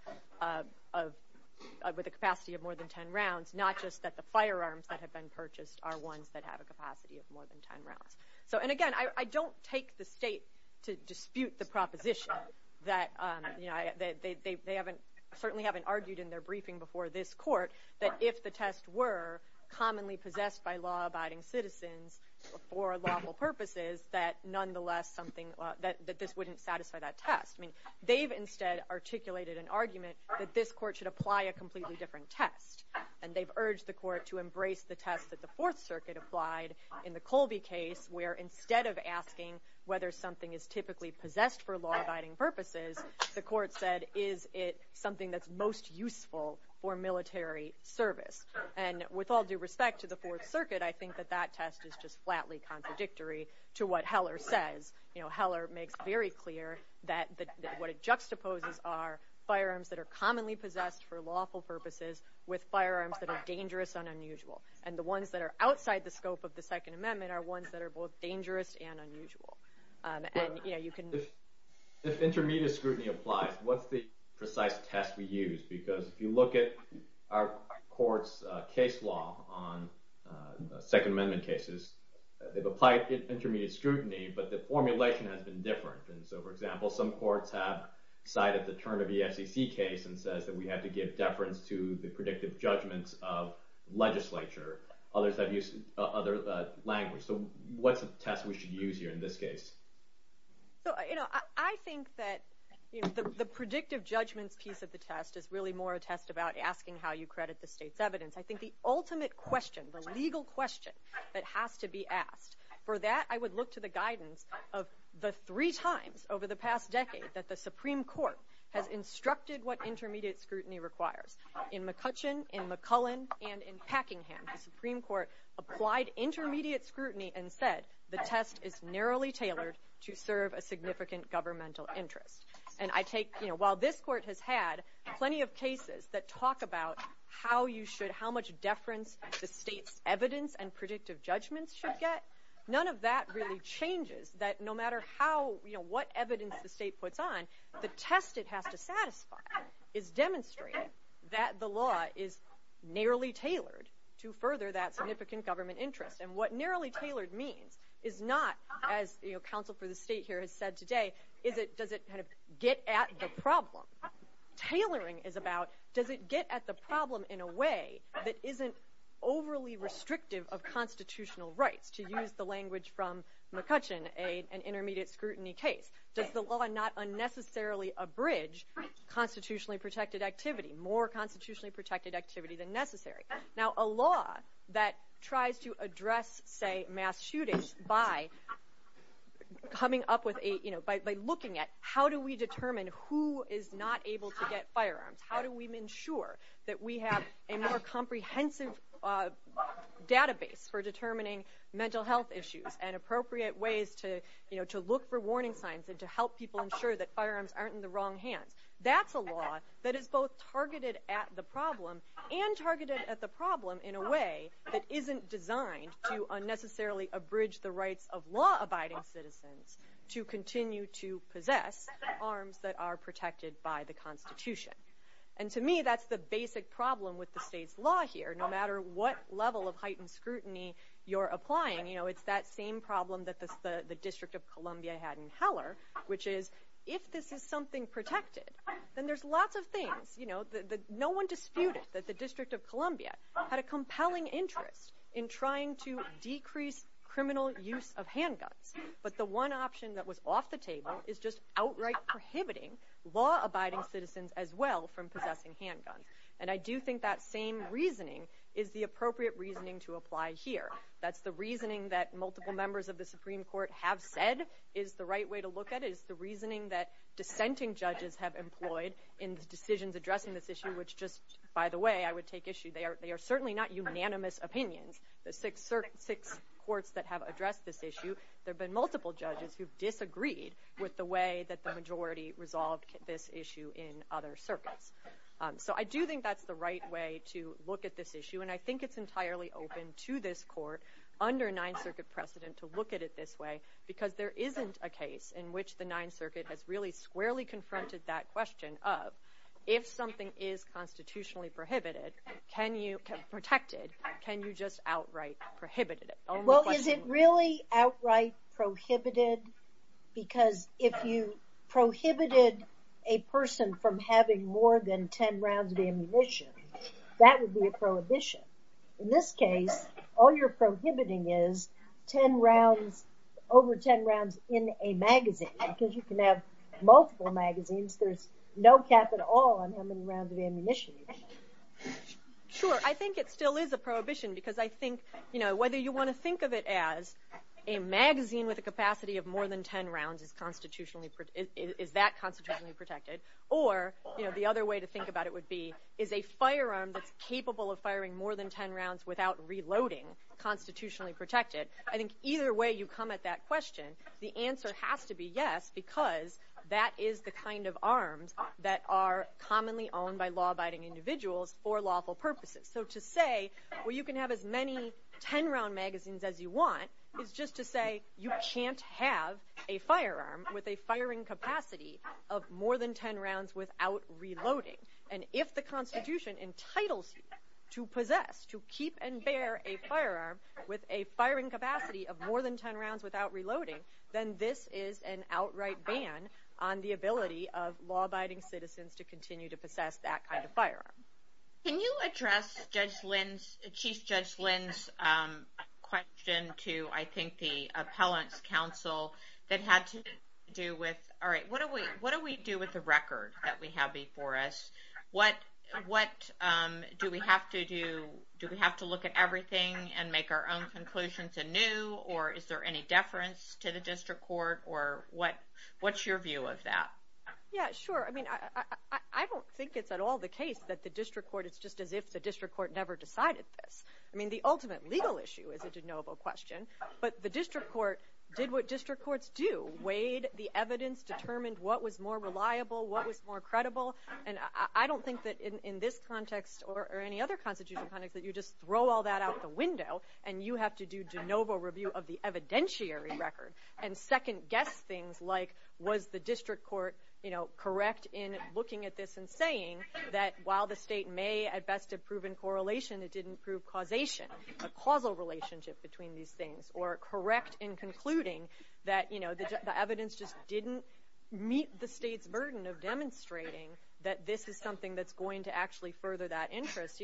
with a capacity of more than 10 rounds, not just that the firearms that have been purchased are ones that have a capacity of more than 10 rounds. And again, I don't take the State to dispute the proposition that they certainly haven't argued in their briefing before this court that if the tests were commonly possessed by law-abiding citizens for lawful purposes, that nonetheless something... that this wouldn't satisfy that test. I mean, they've instead articulated an argument that this court should apply a completely different test. And they've urged the court to embrace the test that the Fourth Circuit applied in the Colby case where instead of asking whether something is typically possessed for law-abiding purposes, the court said, is it something that's most useful for military service? And with all due respect to the Fourth Circuit, I think that that test is just flatly contradictory to what Heller says. You know, Heller makes very clear that what it juxtaposes are firearms that are commonly possessed for lawful purposes with firearms that are dangerous and unusual. And the ones that are outside the scope of the Second Amendment are ones that are both and, you know, you can... If intermediate scrutiny applies, what's the precise test we use? Because if you look at our court's case law on Second Amendment cases, they've applied intermediate scrutiny, but the formulation has been different. And so, for example, some courts have cited the term of the FCC case and says that we have to give deference to the predictive judgments of legislature. Others have used other language. So what's the test we should use here in this case? So, you know, I think that the predictive judgments piece of the test is really more a test about asking how you credit the state's evidence. I think the ultimate question, the legal question that has to be asked. For that, I would look to the guidance of the three times over the past decade that the Supreme Court has instructed what intermediate scrutiny requires. In McCutcheon, in McCullen, and in Packingham, the Supreme Court applied intermediate scrutiny and said the test is narrowly tailored to serve a significant governmental interest. And I take, you know, while this court has had plenty of cases that talk about how you should, how much deference the state's evidence and predictive judgments should get, none of that really changes that no matter how, you know, what evidence the state puts on, the test it has to satisfy is demonstrating that the law is narrowly tailored to further that significant government interest. And what narrowly tailored means is not, as, you know, counsel for the state here has said today, is it, does it kind of get at the problem. Tailoring is about does it get at the problem in a way that isn't overly restrictive of constitutional rights, to use the language from McCutcheon, an intermediate scrutiny case. Does the law not unnecessarily abridge constitutionally protected activity, more constitutionally protected activity than necessary? Now, a law that tries to address, say, mass shootings by coming up with a, you know, by looking at how do we determine who is not able to get firearms? How do we ensure that we have a more comprehensive database for determining mental health issues and appropriate ways to, you know, to look for warning signs ensure that firearms aren't in the wrong hands. That's a law that is both targeted at the problem and targeted at the problem in a way that isn't designed to unnecessarily abridge the rights of law-abiding citizens to continue to possess arms that are protected by the Constitution. And to me, that's the basic problem with the state's law here. No matter what level of heightened scrutiny you're applying, you know, it's that same problem that the District of Columbia had in Heller, which is, if this is something protected, then there's lots of things, you know, that no one disputed that the District of Columbia had a compelling interest in trying to decrease criminal use of handguns. But the one option that was off the table is just outright prohibiting law-abiding citizens as well from possessing handguns. And I do think that same reasoning is the appropriate reasoning to apply here. That's the reasoning that multiple members of the Supreme Court have said is the right way to look at it. It's the reasoning that dissenting judges have employed in the decisions addressing this issue, which just, by the way, I would take issue. They are certainly not unanimous opinions. The six courts that have addressed this issue, there have been multiple judges who've disagreed with the way that the majority resolved this issue in other circuits. So I do think that's the right way to look at this issue, and I think it's entirely open to this court under Ninth Circuit precedent to look at it this way because there isn't a case in which the Ninth Circuit has really squarely confronted that question of, if something is constitutionally prohibited, can you protect or can you just outright prohibit it? Well, is it really outright prohibited? Because if you prohibited a person from having more than 10 rounds of ammunition, that would be a prohibition. In this case, all you're prohibiting is over 10 rounds in a magazine because you can have multiple magazines. There's no cap at all on how many rounds of ammunition you can have. Sure. But I think it still is a prohibition because I think whether you want to think of it as a magazine with a capacity of more than 10 rounds is that constitutionally protected? Or the other way to think about it would be, is a firearm that's capable of firing more than 10 rounds without reloading constitutionally protected? I think either way you come at that question, the answer has to be yes because that is the kind of arms that are commonly owned by law-abiding individuals for lawful purposes. So to say, well you can have as many 10-round magazines as you want is just to say you can't have a firearm with a firing capacity of more than 10 rounds without reloading. And if the constitution entitles you to possess, to keep and bear a firearm with a firing capacity of more than 10 rounds without reloading, then this is an outright ban on the ability of law-abiding citizens to continue to possess that kind of firearm. Can you address Chief Judge Lynn's question to I think the Appellant's Council that had to do with, all right, what do we do with the record that we have before us? What do we have to do? Do we have to look at everything and make our own conclusions anew or is there any deference to the district court or what's your view of that? Yeah, sure. I mean I don't think it's at all the case that the district court, it's just as if the district court never decided this. I mean the ultimate legal issue is a de novo question, but the district court did what district courts do, weighed the evidence, determined what was more reliable, what was more credible, and I don't think that in this context or any other constitutional context that you just throw all that out the window and you have to do de novo review of the evidentiary record and second guess things like was the district court correct in looking at this and saying that while the state may at best have proven correlation, it didn't prove causation, a causal relationship between these things, or correct in concluding that the evidence just didn't meet the state's burden of demonstrating that this is something that's going to actually further that interest.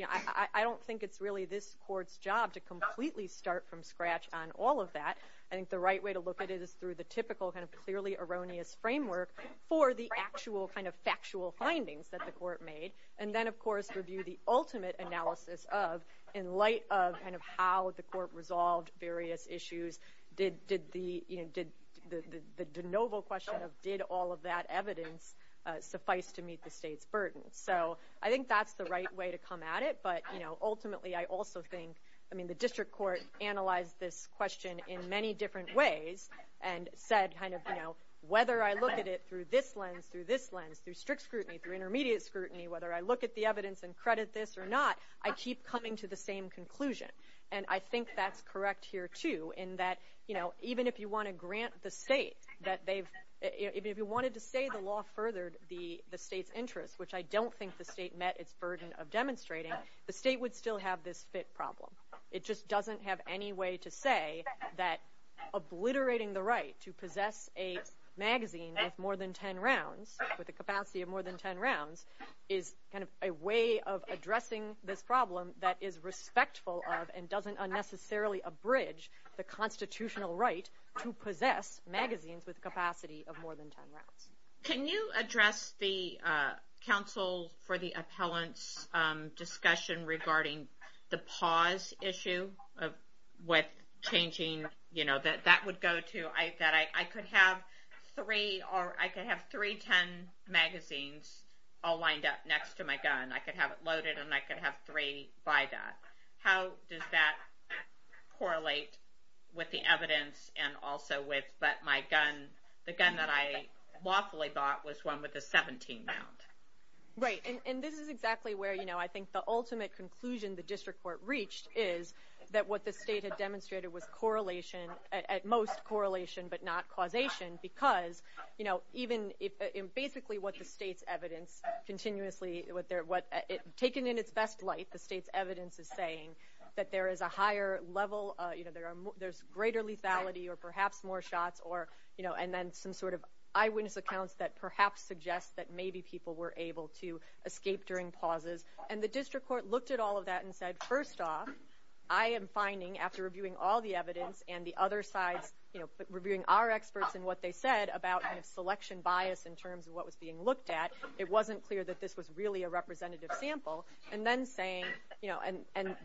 I don't think it's really this court's job to completely start from scratch on all of that. I think the right way to look at it is through the typical kind of clearly erroneous framework for the actual kind of factual findings that the court made and then, of course, review the ultimate analysis of in light of how the court resolved various issues. Did the de novo question of did all of that evidence suffice to meet the state's burden? I think that's the right way to come at it, but ultimately I also think the district court analyzed this question in many different ways and said whether I look at it through this lens, through this lens, through strict scrutiny, through intermediate scrutiny, whether I look at the evidence and credit this or not, I keep coming to the same conclusion. And I think that's correct here, too, in that even if you want to grant the state that they've, even if you wanted to say the law furthered the state's interest, which I don't think the state met its burden of demonstrating, the state would still have this fit problem. It just doesn't have any way to say that obliterating the right to possess a magazine with more than 10 rounds with a capacity of more than 10 rounds is kind of a way of addressing this problem that is respectful of and doesn't unnecessarily abridge the constitutional right to possess magazines with a capacity of more than 10 rounds. Can you address the counsel for the appellant's discussion regarding the pause issue with changing, you know, that that would go to, that I could have three 10 magazines all lined up next to my gun. I could have it loaded and I could have three by that. How does that correlate with the evidence and also with, but my gun, the gun that I lawfully bought was one with a 17 round. Right, and this is exactly where, you know, I think the ultimate conclusion is that what the state had demonstrated was correlation, at most correlation, but not causation, because, you know, even if, basically what the state's evidence continuously, what they're, what it, taken in its best light, the state's evidence is saying that there is a higher level, you know, there's greater lethality or perhaps more shots or, you know, and then some sort of eyewitness accounts that perhaps suggest that maybe people were able to escape during pauses. And the district court looked at all of that and said, first off, I am finding, after reviewing all the evidence and the other sides, you know, reviewing our experts and what they said about selection bias in terms of what was being looked at, it wasn't clear that this was really a representative sample. And then saying, you know, and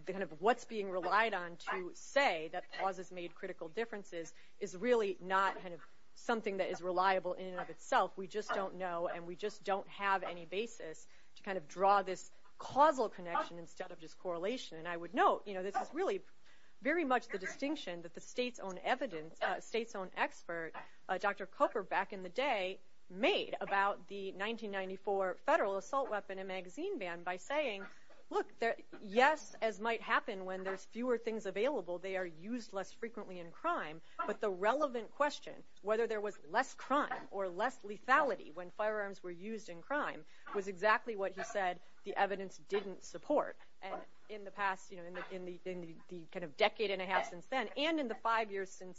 kind of what's being relied on to say that pauses made critical differences is really not, kind of, something that is reliable in and of itself. We just don't know and we just don't have any basis to kind of draw this causal connection instead of just correlation. And I would note, you know, this is really very much the distinction that the state's own evidence, state's own expert, Dr. Cooper, back in the day, made about the 1994 federal assault weapon and magazine ban by saying, look, yes, as might happen when there's fewer things available, they are used less frequently in crime, but the relevant question, whether there was less crime or less lethality when firearms were used in crime, was exactly what he said the evidence didn't support. And in the past, you know, in the kind of decade and a half since then, and in the five years since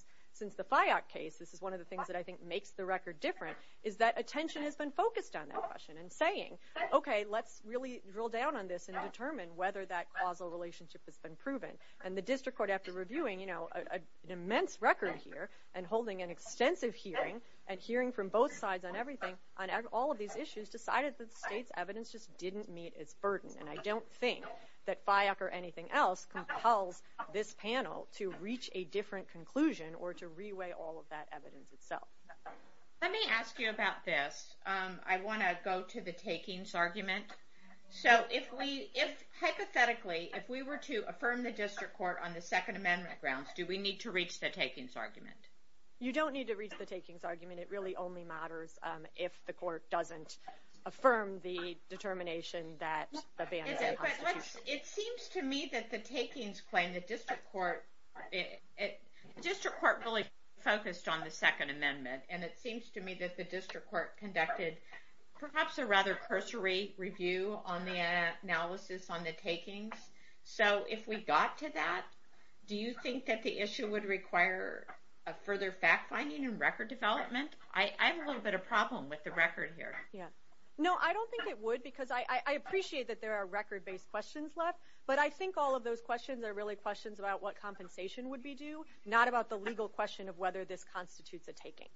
the FIOC case, this is one of the things that I think makes the record different, is that attention has been focused on that question and saying, okay, let's really drill down on this and determine whether that causal relationship has been proven. And the district court, after reviewing, you know, an immense record here and holding an extensive hearing and hearing from both sides on everything, on all of these issues, decided that the state's evidence just didn't meet its burden. And I don't think that FIOC or anything else compels this panel to reach a different conclusion or to reweigh all of that evidence itself. Let me ask you about this. I want to go to the takings argument. So, if we, if, hypothetically, if we were to affirm the district court on the Second Amendment grounds, do we need to reach the takings argument? You don't need to reach the takings argument. It really only matters if the court doesn't affirm the determination that the ban is a constitution. But, it seems to me that the takings claim, the district court, it, the district court really focused on the Second Amendment. And it seems to me that the district court conducted, perhaps, a rather cursory review on the analysis on the takings. So, if we got to that, do you think that the issue would require a further fact-finding and record development? I have a little bit of a problem with the record here. Yeah. No, I don't think it would because I appreciate that there are record-based questions left. But I think all of those questions are really questions about what compensation would be due, not about the legal question of whether this constitutes a taking.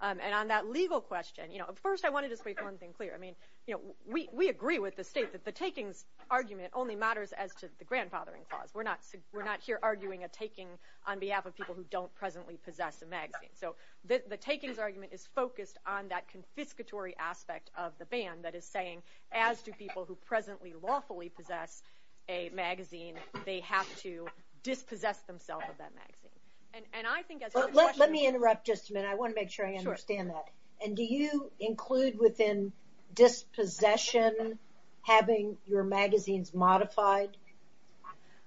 And on that legal question, you know, first I want to just make one thing clear. I mean, you know, we agree with the state that the takings argument only matters as to the grandfathering clause. We're not here arguing a taking on behalf of people who don't presently possess a magazine. So, the takings argument is focused on that confiscatory aspect of the ban that is saying, as do people who presently lawfully possess a magazine, they have to dispossess themselves of that magazine. And I think, as her question was... Let me interrupt just a minute. I want to make sure I understand that. Sure. And do you include within dispossession having your magazines modified?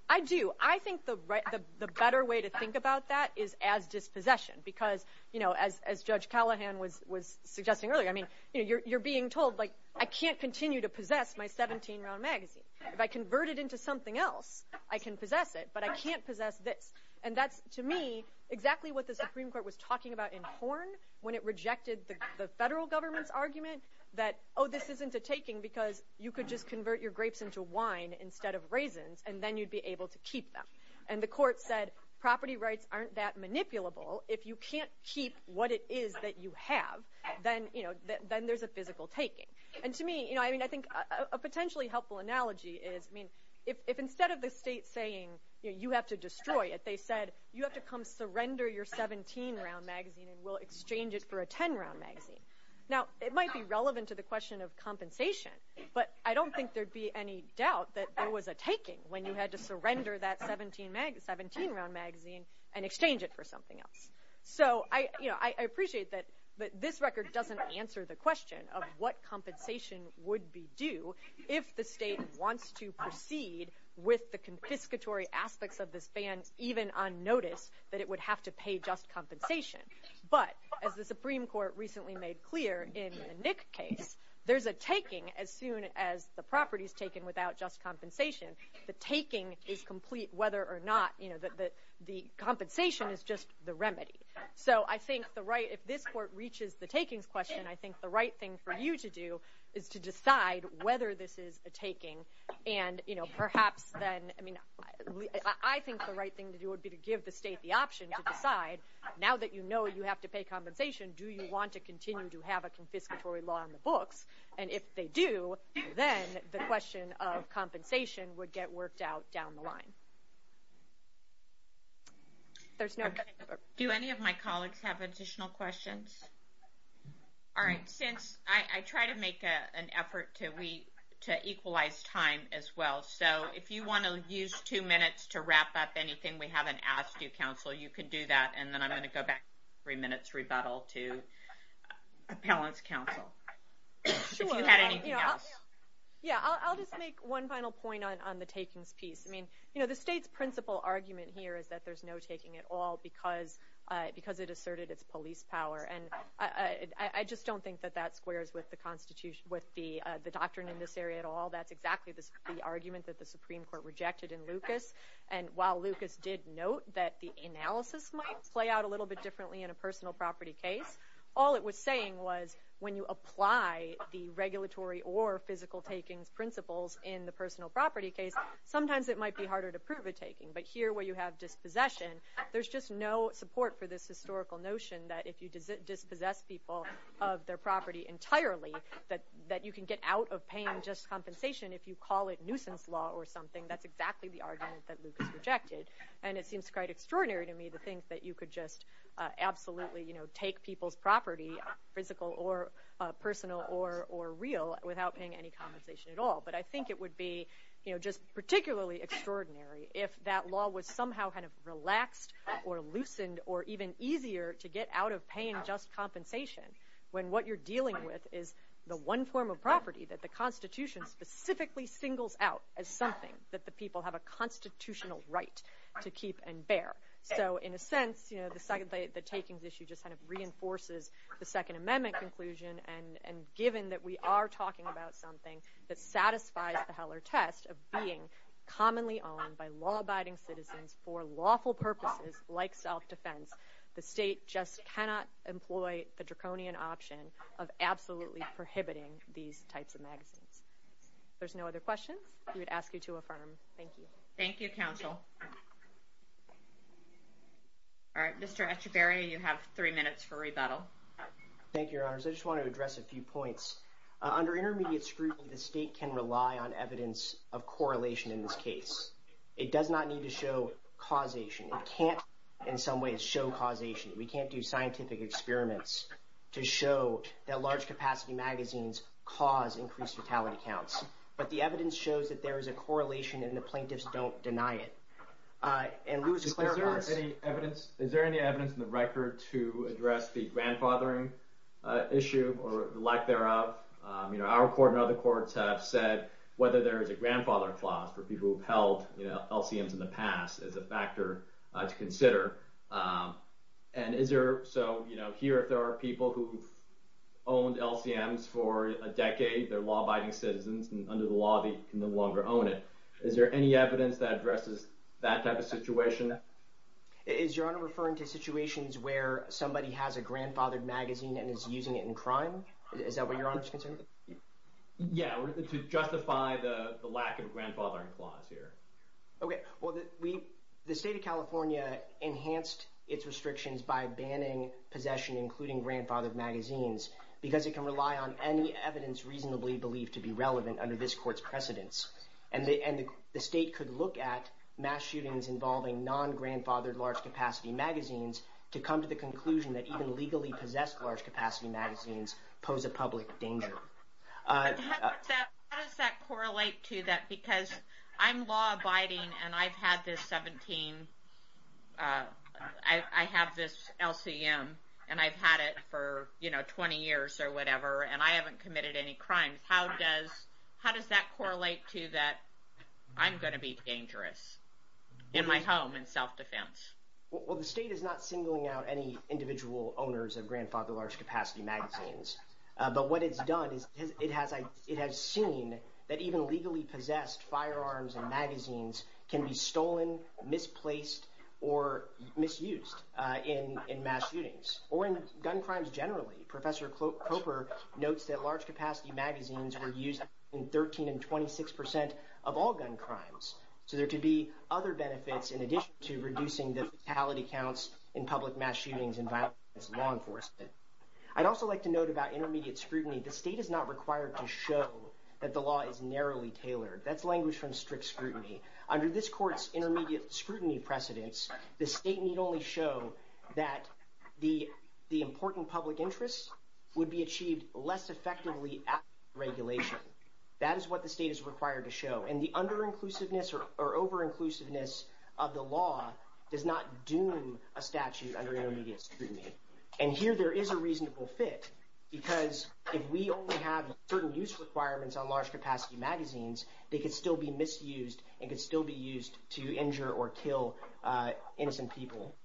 I do. I think the better way to think about that is as dispossession because, you know, as Judge Callahan was suggesting earlier, I mean, you're being told, like, I can't continue to possess my 17-round magazine. If I convert it to something else, I can possess it, but I can't possess this. And that's, to me, exactly what the Supreme Court was talking about in Horn when it rejected the federal government's argument that, oh, this isn't a taking because you could just convert your grapes into wine instead of raisins and then you'd be able to keep them. And the court said, property rights aren't that manipulable if you can't keep what it is that you have, then, you know, then there's a physical taking. And to me, you know, I mean, I think a potentially helpful analogy is, I mean, if instead of the state saying, you know, you have to destroy it, they said, you have to come surrender your 17-round magazine and we'll exchange it for a 10-round magazine. Now, it might be relevant to the question of compensation, but I don't think there'd be any doubt that there was a taking when you had to surrender that 17-round magazine and exchange it for something else. So, you know, I appreciate that this record doesn't answer the question of what compensation would be due if the state wants to proceed with the confiscatory aspects of this ban even on notice that it would have to pay just compensation. But, as the Supreme Court recently made clear in the Nick case, there's a taking as soon as the property is taken without just compensation. is complete whether or not, you know, the compensation is just the remedy. So, I think the right, if this court reaches the takings question, I think that the right thing for you to do is to decide whether this is a taking. And, you know, perhaps then, I mean, I think the right thing to do would be to give the state the option to decide now that you know you have to pay compensation, do you want to continue to have a confiscatory law on the books? And if they do, then the question of compensation would get worked out down the line. There's no... Do any of my colleagues have additional questions? All right. Since I try to make an effort to equalize time as well, so if you want to use two minutes to wrap up anything we haven't asked you, counsel, you can do that and then I'm going to go back in three minutes rebuttal to appellant's counsel. If you had anything else. Yeah, I'll just make one final point on the takings piece. I mean, you know, the state's principal argument here is that there's no taking at all because it asserted its police power. And I just don't think that that squares with the constitution, with the doctrine in this area at all. That's exactly the argument that the Supreme Court rejected in Lucas. And while Lucas did note that the analysis might play out a little bit differently in a personal property case, all it was saying was when you apply the regulatory or physical takings principles in the personal property case, sometimes it might be harder to prove a taking. But here where you have dispossession, there's just no support for this historical notion that if you dispossess people of their property entirely, that you can get out of paying just compensation if you call it nuisance law or something. That's exactly the argument that Lucas rejected. And it seems quite extraordinary to me to think that you could just absolutely take people's property, physical or personal or real, without paying any compensation at all. But I think it would be just particularly extraordinary if that law was somehow kind of relaxed or loosened or even easier to get out of paying just compensation when what you're dealing with is the one form of property that the Constitution specifically singles out as something that the people have a constitutional right to keep and bear. So in a sense, the takings issue just kind of reinforces the Second Amendment conclusion and given that we are talking about something that satisfies the Heller test of being commonly owned by law-abiding citizens for lawful purposes like self-defense, the state just cannot employ the draconian option of absolutely prohibiting these types of magazines. If there's no other questions, we would ask you to affirm. Thank you. Thank you, Counsel. All right, Mr. Echevarria, you have three minutes for rebuttal. Thank you, Your Honors. I just want to address a few points. Under intermediate scrutiny, the state can rely on evidence of correlation in this case. It does not need to show causation. It can't, in some ways, show causation. We can't do scientific experiments to show that large-capacity magazines cause increased fatality counts. But the evidence shows that there is a correlation and the plaintiffs don't deny it. Is there any evidence in the record to address the grandfathering issue or the lack thereof? You know, our court and other courts have said whether there is a grandfather clause for people who have held LCMs in the past is a factor to consider. And is there, so, you know, here, if there are people who have owned LCMs for a decade, they're law-abiding citizens, and under the law, they no longer own LCMs. Is there any evidence that addresses that type of situation? Is Your Honor referring to situations where somebody has a grandfathered magazine and is using it in crime? Is that what Your Honor's concerned? Yeah, to justify the lack of grandfathering clause here. Okay, well, the State of California enhanced its restrictions by banning possession including grandfathered magazines because it can rely on any evidence reasonably believed to be relevant under this Court's precedence. And the State could look at mass shootings involving non-grandfathered large-capacity magazines to come to the conclusion that even legally possessed large-capacity magazines pose a public danger. How does that correlate to that? I'm law abiding and I've had this 17, I have this LCM and I've had it for, you know, 20 years or whatever and I haven't committed any crimes. How does that correlate going to be dangerous in my home in self-defense? Well, the State is not singling out any individual owners of grandfathered large-capacity magazines. law on gun crimes and magazines can be stolen, misplaced, or misused in mass shootings or in gun crimes generally. Professor Coper notes that large-capacity magazines were used in 13 and 26 percent of all gun crimes. So there could be other benefits in addition to reducing the fatality counts in public mass shootings and violence against law enforcement. I'd also like to note about intermediate scrutiny. The State is not required to show that the law is narrowly tailored. That's language from strict scrutiny. Under this Court's intermediate scrutiny precedence, the State need only show that the important super-inclusiveness of the law does not doom a statute under intermediate scrutiny. And here there is a reasonable fit because if we only have certain use requirements on large-capacity magazines, they can still be misused and can still be used to injure or kill innocent people.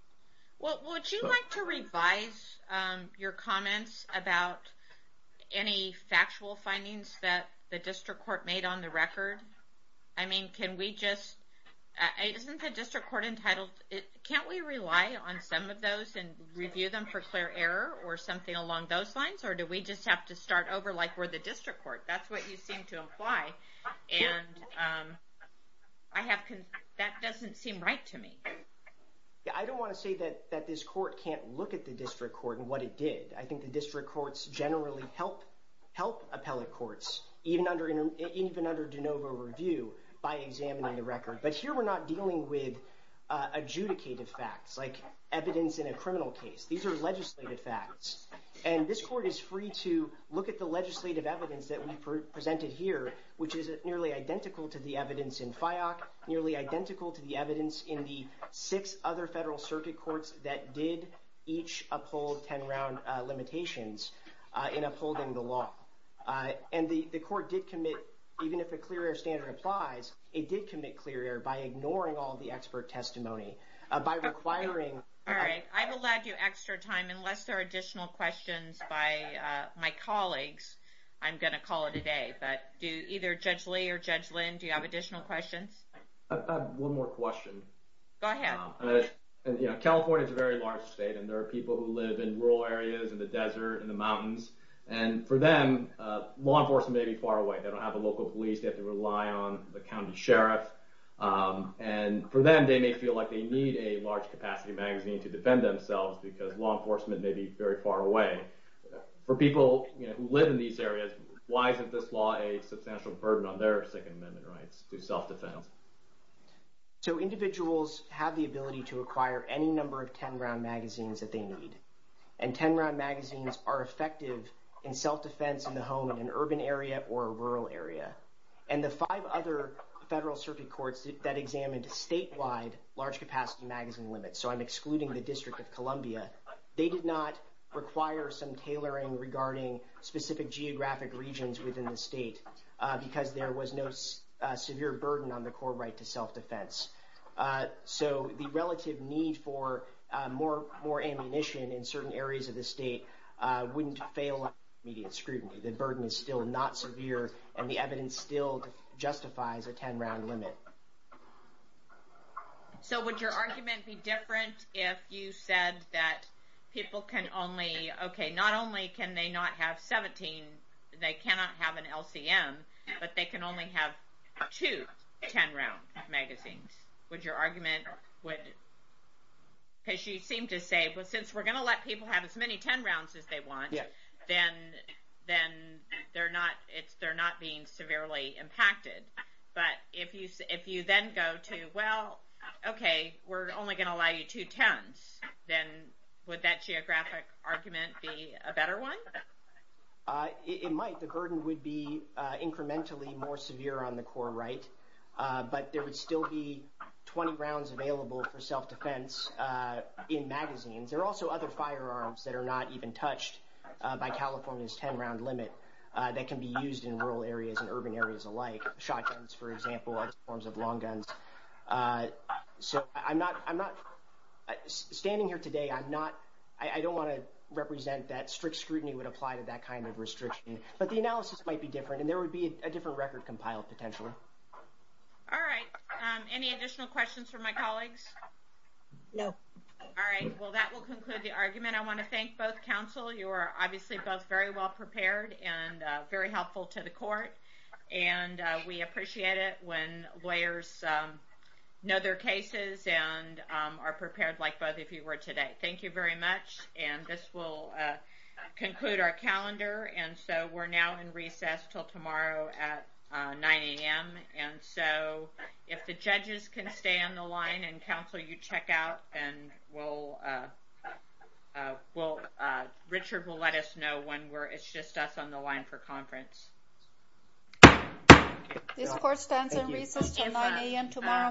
Would you like to revise your comments about any factual findings that the District Court made on the record? I mean, can we just, isn't the District Court entitled, can't we rely on some of those and review them for clear error or something along those lines? Or do we just have to start over like we're the District Court? That's what you seem to imply. And that doesn't seem right to me. I don't want to say that this court can't look at the District Court and what it did. I think the District Courts generally help appellate courts even under de novo review by examining the record. But here we're not dealing with adjudicated facts like evidence in a criminal case. These are legislative facts. And this is identical to the evidence in the six other federal circuit courts that did each uphold ten round limitations in upholding the law. And the court did commit, even if a clear error standard applies, it did commit clear error by ignoring all the expert testimony. By requiring All right. I've allowed you extra time unless there are additional questions by my colleagues. I'm going to call it a day. But either Judge Lee or Judge Lynn, do you have additional questions? I have one more question. Go ahead. California is a very large state and there are people who live in rural areas, in the desert, in the mountains, and for them law enforcement may be far away. For people who live in these areas, why is this law a substantial burden on their second amendment rights? So individuals have the ability to acquire any number of ten round magazines that they need. And ten round magazines are effective in self defense, but require some tailoring regarding specific geographic regions within the state because there was no severe burden on the core right to self defense. So the relative need for more ammunition in certain areas of the state wouldn't fail in immediate scrutiny. The burden is still not severe and the evidence still justifies a ten round limit. So would your argument be different if you said that people can only, okay, not only can they not have 17, they cannot have an LCM, but they can only have two ten round magazines. Would your argument, would, because you seem to say, but since we're going to let people have as many ten rounds as they want, then they're not being severely impacted. But if you then go to, well, okay, we're only going to allow you two tens, then would that geographic argument be a better one? It might. The burden would be incrementally more severe on the core right. But there would still be 20 rounds available for self-defense in magazines. There are also other firearms that are not even touched by California's ten round limit that can be used in rural areas and urban areas alike. Shotguns, for example, other forms of long guns. So I'm not, standing here today, I'm not, I don't want to represent that strict scrutiny would apply to that kind of restriction. But the analysis might be different and there would be a different record compiled potentially. All right. Any additional questions for my colleagues? No. All right. Well that will conclude the argument. I want to thank both counsel. You are obviously both very well prepared and very helpful to the court. And we appreciate it when lawyers know their cases and are prepared like both of you were today. Thank you very much. And this will conclude our calendar and so we're now in recess. And Richard will let us know when it's just us on the line for conference. This court stands in recess until 9 a.m. tomorrow morning.